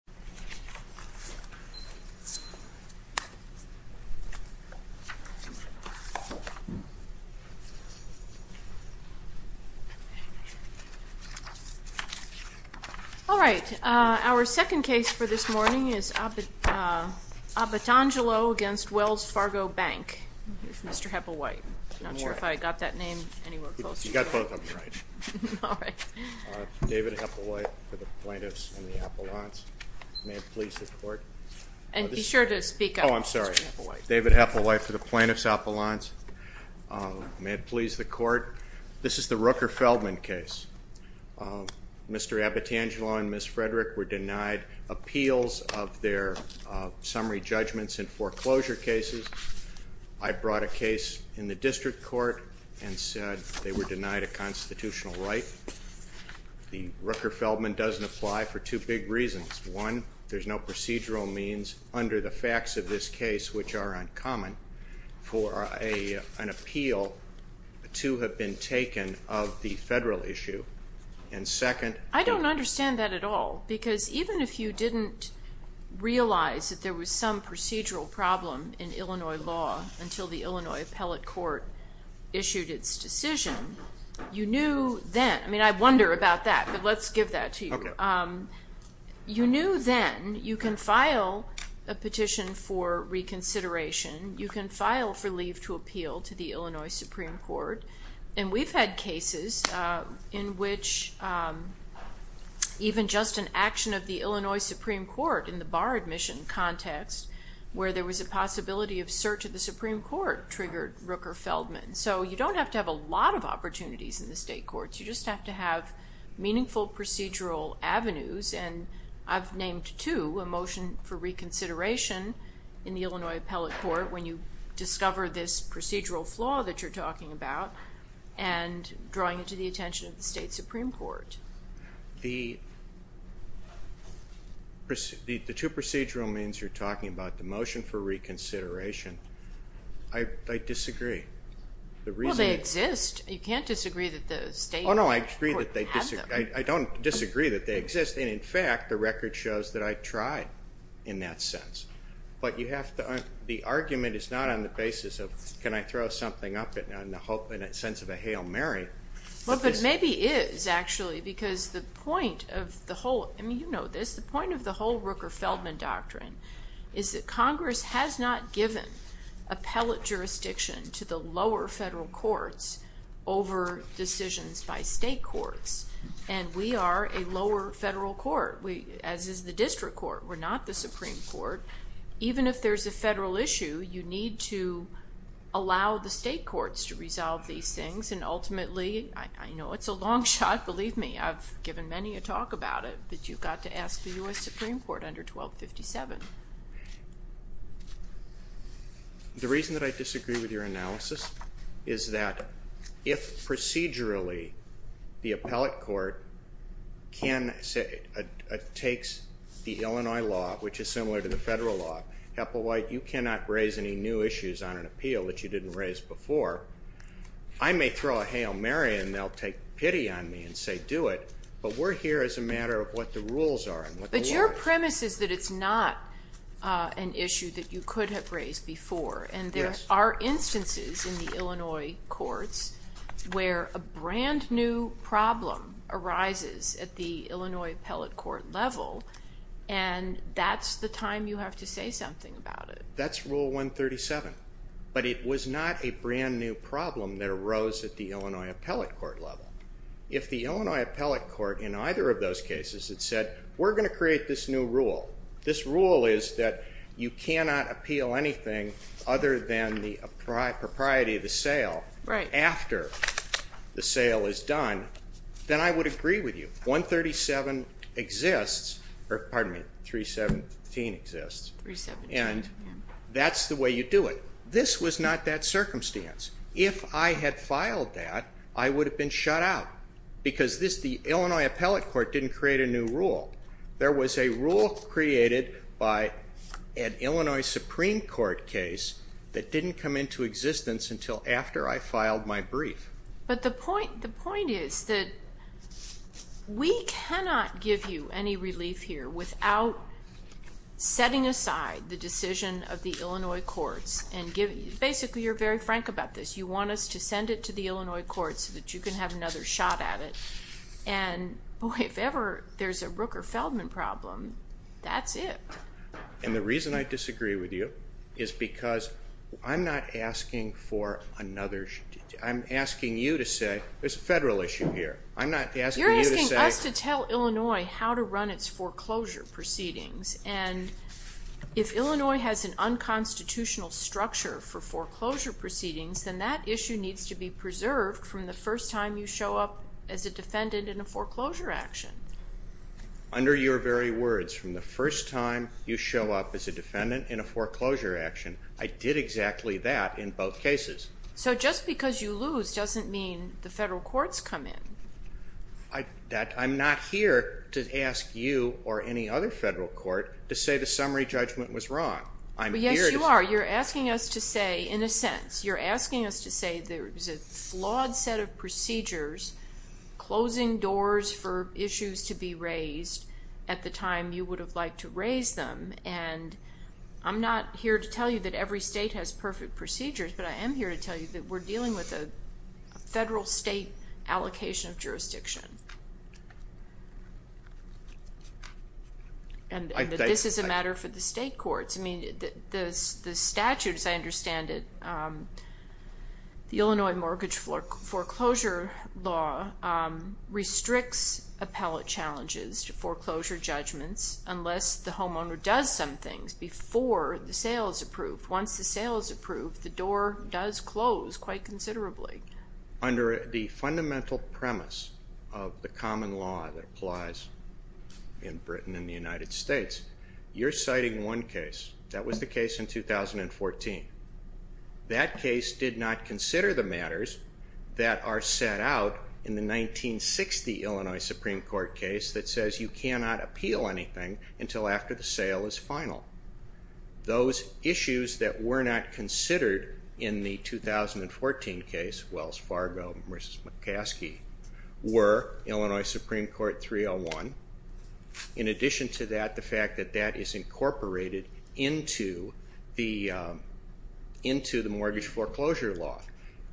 2 Abatangelo v. Wells Fargo Bank 2 Abatangelo v. Wells Fargo Bank 2 Abatangelo v. Wells Fargo Bank 2 Abatangelo v. Wells Fargo Bank You knew then you can file a petition for reconsideration, you can file for leave to appeal to the Illinois Supreme Court, and we've had cases in which even just an action of the Illinois Supreme Court in the bar admission context where there was a possibility of search of the Supreme Court triggered Rooker Feldman. So you don't have to have a lot of opportunities in the state courts, you just have to have meaningful procedural avenues and I've named two, a motion for reconsideration in the Illinois Appellate Court when you discover this procedural flaw that you're talking about and drawing it to the attention of the state Supreme Court. The two procedural means you're talking about, the motion for reconsideration, I disagree. Well they exist, you can't disagree that the state courts have them. I don't disagree that they exist and in fact the record shows that I tried in that sense. But the argument is not on the basis of can I throw something up in the sense of a Hail Mary. Well but maybe it is actually because the point of the whole, I mean you know this, the point of the whole Rooker Feldman doctrine is that Congress has not given appellate jurisdiction to the lower federal courts over decisions by state courts and we are a lower federal court as is the district court. We're not the Supreme Court. Even if there's a federal issue you need to allow the state courts to resolve these things and ultimately, I know it's a long shot, believe me, I've given many a talk about it, but you've got to ask the U.S. Supreme Court under 1257. The reason that I disagree with your analysis is that if procedurally the appellate court can take the Illinois law, which is similar to the federal law, you cannot raise any new issues on an appeal that you didn't raise before. I may throw a Hail Mary and they'll take pity on me and say do it, but we're here as a matter of what the rules are and what the law is. But your premise is that it's not an issue that you could have raised before and there are instances in the Illinois courts where a brand new problem arises at the Illinois appellate court level and that's the time you have to say something about it. That's Rule 137, but it was not a brand new problem that arose at the Illinois appellate court level. If the Illinois appellate court in either of those cases had said, we're going to create this new rule, this rule is that you cannot appeal anything other than the propriety of the sale after the sale is done, then I would agree with you. 137 exists, or pardon me, 317 exists, and that's the way you do it. This was not that circumstance. If I had filed that, I would have been shut out because the Illinois appellate court didn't create a new rule. There was a rule created by an Illinois Supreme Court case that didn't come into existence until after I filed my brief. But the point is that we cannot give you any relief here without setting aside the decision of the Illinois courts. Basically, you're very frank about this. You want us to send it to the Illinois courts so that you can have another shot at it, and if ever there's a Rooker-Feldman problem, that's it. And the reason I disagree with you is because I'm not asking for another, I'm asking you to say there's a federal issue here. You're asking us to tell Illinois how to run its foreclosure proceedings, and if Illinois has an unconstitutional structure for foreclosure proceedings, then that issue needs to be preserved from the first time you show up as a defendant in a foreclosure action. Under your very words, from the first time you show up as a defendant in a foreclosure action, I did exactly that in both cases. So just because you lose doesn't mean the federal courts come in. I'm not here to ask you or any other federal court to say the summary judgment was wrong. Yes, you are. You're asking us to say, in a sense, you're asking us to say there is a flawed set of procedures closing doors for issues to be raised at the time you would have liked to raise them, and I'm not here to tell you that every state has perfect procedures, but I am here to tell you that we're dealing with a federal-state allocation of jurisdiction. And that this is a matter for the state courts. I mean, the statute, as I understand it, the Illinois Mortgage Foreclosure Law restricts appellate challenges to foreclosure judgments unless the homeowner does some things before the sale is approved. Once the sale is approved, the door does close quite considerably. Under the fundamental premise of the common law that applies in Britain and the United States, you're citing one case. That was the case in 2014. That case did not consider the matters that are set out in the 1960 Illinois Supreme Court case that says you cannot appeal anything until after the sale is final. Those issues that were not considered in the 2014 case, Wells Fargo v. McCaskey, were Illinois Supreme Court 301. In addition to that, the fact that that is incorporated into the Mortgage Foreclosure Law.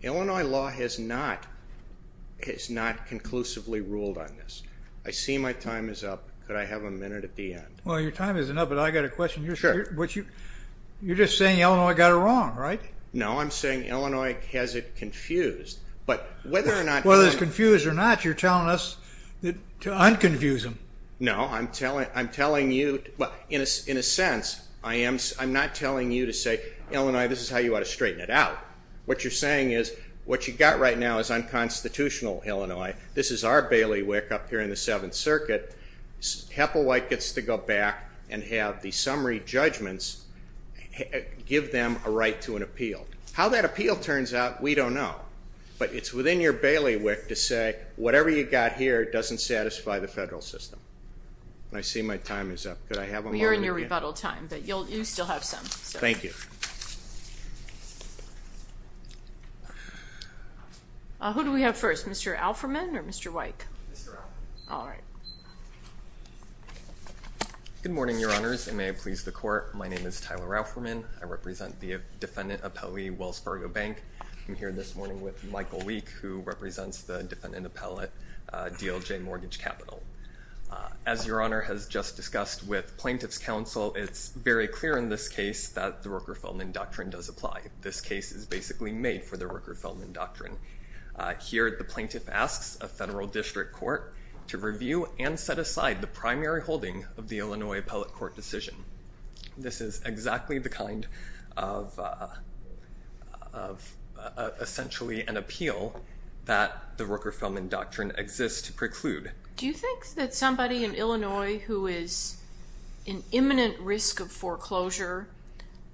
Illinois law has not conclusively ruled on this. I see my time is up. Could I have a minute at the end? Well, your time isn't up, but I've got a question. You're just saying Illinois got it wrong, right? No, I'm saying Illinois has it confused. Whether it's confused or not, you're telling us to un-confuse them. No, I'm telling you, in a sense, I'm not telling you to say, Illinois, this is how you ought to straighten it out. What you're saying is, what you've got right now is unconstitutional, Illinois. This is our bailiwick up here in the Seventh Circuit. HEPA-WIKE gets to go back and have the summary judgments give them a right to an appeal. How that appeal turns out, we don't know. But it's within your bailiwick to say, whatever you've got here doesn't satisfy the federal system. I see my time is up. Could I have a moment at the end? You're in your rebuttal time, but you still have some. Thank you. Who do we have first, Mr. Alferman or Mr. WIKE? Mr. Alferman. All right. Good morning, Your Honors, and may it please the Court. My name is Tyler Alferman. I represent the defendant appellee, Wells Fargo Bank. I'm here this morning with Michael WIKE, who represents the defendant appellate, DLJ Mortgage Capital. As Your Honor has just discussed with plaintiff's counsel, it's very clear in this case that the Rooker-Feldman Doctrine does apply. This case is basically made for the Rooker-Feldman Doctrine. Here, the plaintiff asks a federal district court to review and set aside the primary holding of the Illinois appellate court decision. This is exactly the kind of essentially an appeal that the Rooker-Feldman Doctrine exists to preclude. Do you think that somebody in Illinois who is in imminent risk of foreclosure,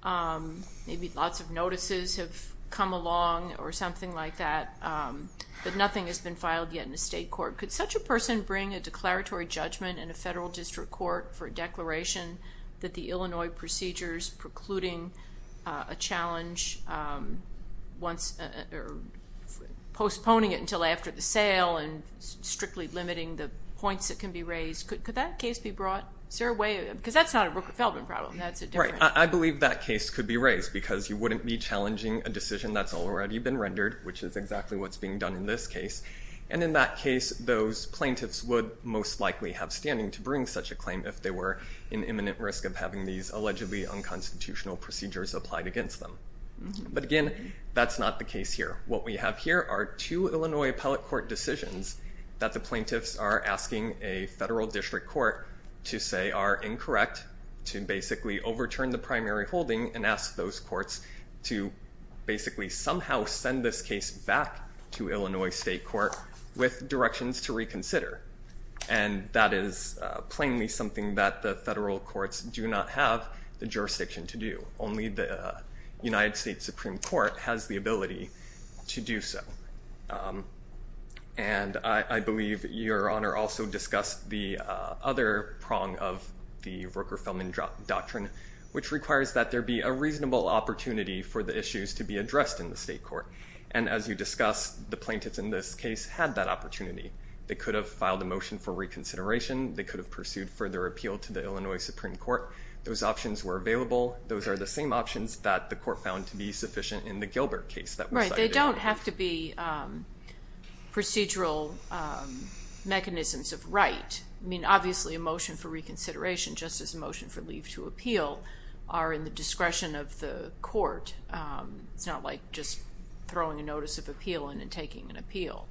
maybe lots of notices have come along or something like that, but nothing has been filed yet in the state court, could such a person bring a declaratory judgment in a federal district court for a declaration that the Illinois procedure is precluding a challenge, postponing it until after the sale and strictly limiting the points that can be raised? Could that case be brought? Is there a way? Because that's not a Rooker-Feldman problem. I believe that case could be raised because you wouldn't be challenging a decision that's already been rendered, which is exactly what's being done in this case. And in that case, those plaintiffs would most likely have standing to bring such a claim if they were in imminent risk of having these allegedly unconstitutional procedures applied against them. But again, that's not the case here. What we have here are two Illinois appellate court decisions that the plaintiffs are asking a federal district court to say are incorrect, to basically overturn the primary holding and ask those courts to basically somehow send this case back to Illinois state court with directions to reconsider. And that is plainly something that the federal courts do not have the jurisdiction to do. Only the United States Supreme Court has the ability to do so. And I believe Your Honor also discussed the other prong of the Rooker-Feldman doctrine, which requires that there be a reasonable opportunity for the issues to be addressed in the state court. And as you discussed, the plaintiffs in this case had that opportunity. They could have filed a motion for reconsideration. They could have pursued further appeal to the Illinois Supreme Court. Those options were available. Those are the same options that the court found to be sufficient in the Gilbert case. Right. They don't have to be procedural mechanisms of right. I mean, obviously, a motion for reconsideration, just as a motion for leave to appeal, are in the discretion of the court. It's not like just throwing a notice of appeal in and taking an appeal.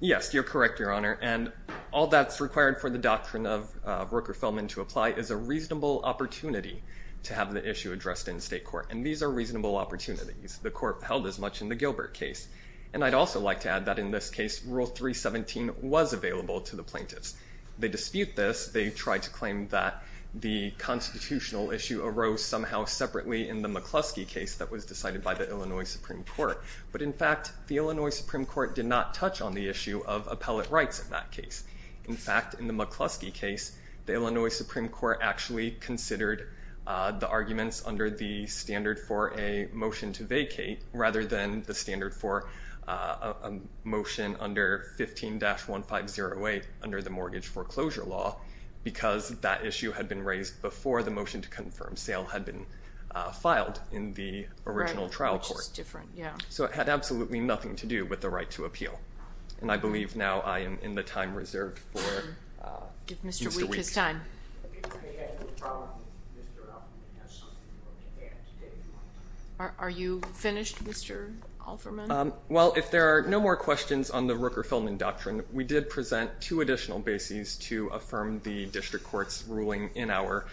Yes, you're correct, Your Honor. And all that's required for the doctrine of Rooker-Feldman to apply is a reasonable opportunity to have the issue addressed in state court. And these are reasonable opportunities. The court held as much in the Gilbert case. And I'd also like to add that in this case, Rule 317 was available to the plaintiffs. They dispute this. They tried to claim that the constitutional issue arose somehow separately in the McCluskey case that was decided by the Illinois Supreme Court. But, in fact, the Illinois Supreme Court did not touch on the issue of appellate rights in that case. In fact, in the McCluskey case, the Illinois Supreme Court actually considered the arguments under the standard for a motion to vacate, rather than the standard for a motion under 15-1508 under the mortgage foreclosure law, because that issue had been raised before the motion to confirm sale had been filed in the original trial court. Which is different, yeah. So it had absolutely nothing to do with the right to appeal. And I believe now I am in the time reserved for Mr. Weeks. Give Mr. Weeks his time. Are you finished, Mr. Alferman? Well, if there are no more questions on the Rooker-Feldman doctrine, we did present two additional bases to affirm the district court's ruling in our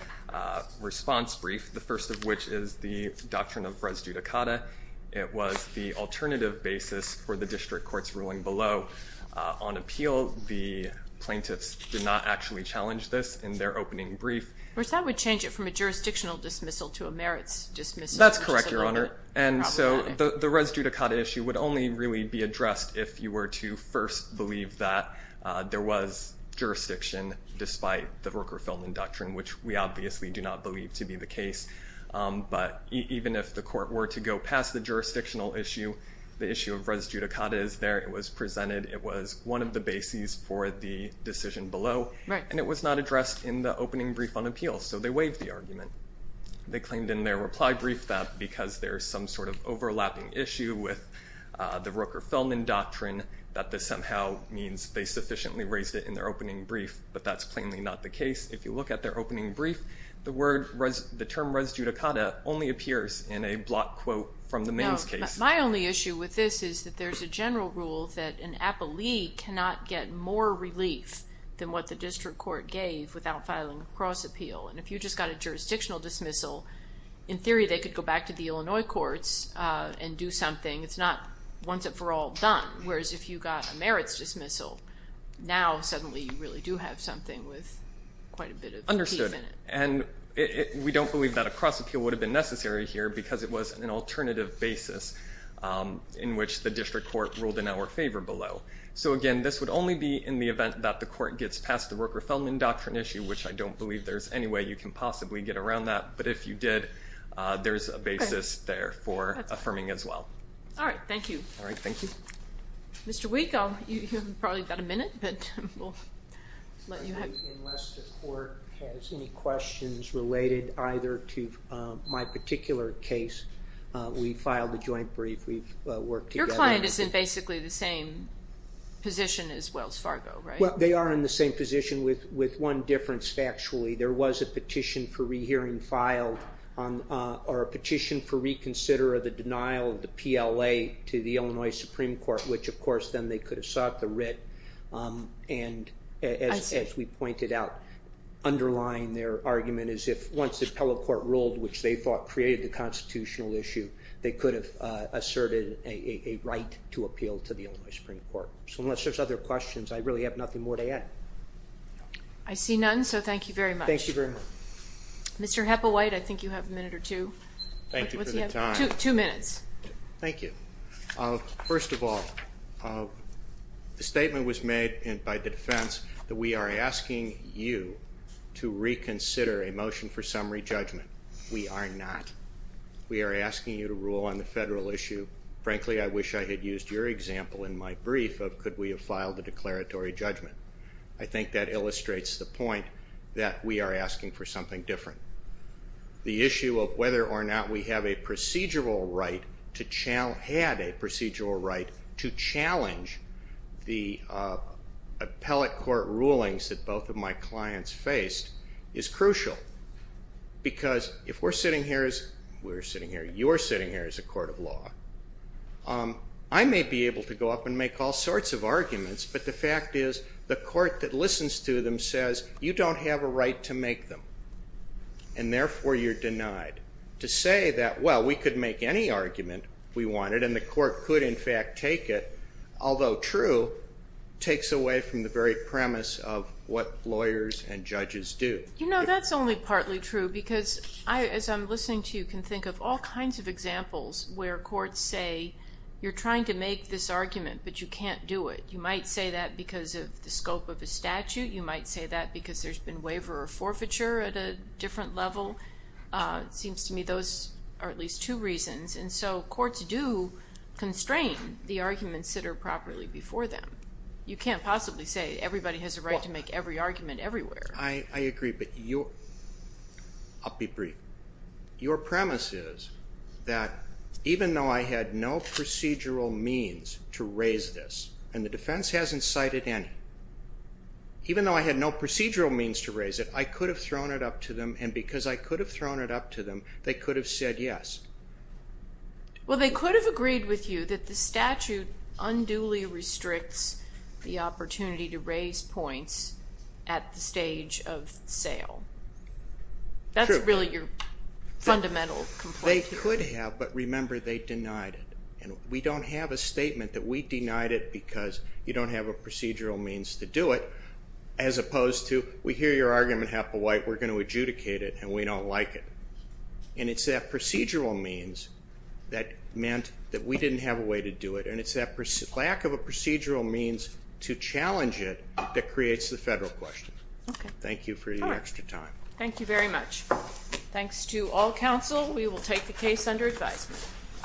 response brief, the first of which is the doctrine of res judicata. It was the alternative basis for the district court's ruling below. On appeal, the plaintiffs did not actually challenge this in their opening brief. Which that would change it from a jurisdictional dismissal to a merits dismissal. That's correct, Your Honor. And so the res judicata issue would only really be addressed if you were to first believe that there was jurisdiction, despite the Rooker-Feldman doctrine, which we obviously do not believe to be the case. But even if the court were to go past the jurisdictional issue, the issue of res judicata is there. It was presented. It was one of the bases for the decision below. Right. And it was not addressed in the opening brief on appeals. So they waived the argument. They claimed in their reply brief that because there is some sort of overlapping issue with the Rooker-Feldman doctrine, that this somehow means they sufficiently raised it in their opening brief. But that's plainly not the case. If you look at their opening brief, the term res judicata only appears in a block quote from the Maine's case. My only issue with this is that there's a general rule that an appellee cannot get more relief than what the district court gave without filing a cross appeal. And if you just got a jurisdictional dismissal, in theory they could go back to the Illinois courts and do something. It's not once and for all done. Whereas if you got a merits dismissal, now suddenly you really do have something with quite a bit of teeth in it. Understood. And we don't believe that a cross appeal would have been necessary here because it was an alternative basis in which the district court ruled in our favor below. So, again, this would only be in the event that the court gets past the Rooker-Feldman doctrine issue, which I don't believe there's any way you can possibly get around that. But if you did, there's a basis there for affirming as well. All right. Thank you. Mr. Wieck, you've probably got a minute, but we'll let you have it. Unless the court has any questions related either to my particular case, we filed a joint brief. We've worked together. Your client is in basically the same position as Wells Fargo, right? Well, they are in the same position with one difference factually. There was a petition for rehearing filed or a petition for reconsider of the denial of the PLA to the Illinois Supreme Court, which, of course, then they could have sought the writ and, as we pointed out, underlying their argument is if once the appellate court ruled, which they thought created the constitutional issue, they could have asserted a right to appeal to the Illinois Supreme Court. So unless there's other questions, I really have nothing more to add. I see none, so thank you very much. Thank you very much. Mr. Hepplewhite, I think you have a minute or two. Thank you for the time. Two minutes. Thank you. First of all, the statement was made by the defense that we are asking you to reconsider a motion for summary judgment. We are not. We are asking you to rule on the federal issue. Frankly, I wish I had used your example in my brief of could we have filed a declaratory judgment. I think that illustrates the point that we are asking for something different. The issue of whether or not we have a procedural right to challenge, had a procedural right to challenge the appellate court rulings that both of my clients faced is crucial because if we're sitting here as, we're sitting here, you're sitting here as a court of law, I may be able to go up and make all sorts of arguments, but the fact is the court that listens to them says you don't have a right to make them, and therefore you're denied. To say that, well, we could make any argument we wanted and the court could in fact take it, although true, takes away from the very premise of what lawyers and judges do. You know, that's only partly true because I, as I'm listening to you, you can think of all kinds of examples where courts say you're trying to make this argument, but you can't do it. You might say that because of the scope of the statute. You might say that because there's been waiver or forfeiture at a different level. It seems to me those are at least two reasons, and so courts do constrain the arguments that are properly before them. You can't possibly say everybody has a right to make every argument everywhere. I agree, but you, I'll be brief. Your premise is that even though I had no procedural means to raise this, and the defense hasn't cited any, even though I had no procedural means to raise it, I could have thrown it up to them, and because I could have thrown it up to them, they could have said yes. Well, they could have agreed with you that the statute unduly restricts the opportunity to raise points at the stage of sale. That's really your fundamental complaint here. They could have, but remember they denied it, and we don't have a statement that we denied it because you don't have a procedural means to do it, as opposed to we hear your argument half a white, we're going to adjudicate it, and we don't like it. And it's that procedural means that meant that we didn't have a way to do it, and it's that lack of a procedural means to challenge it that creates the federal question. Thank you for your extra time. Thank you very much. Thanks to all counsel. We will take the case under advisement.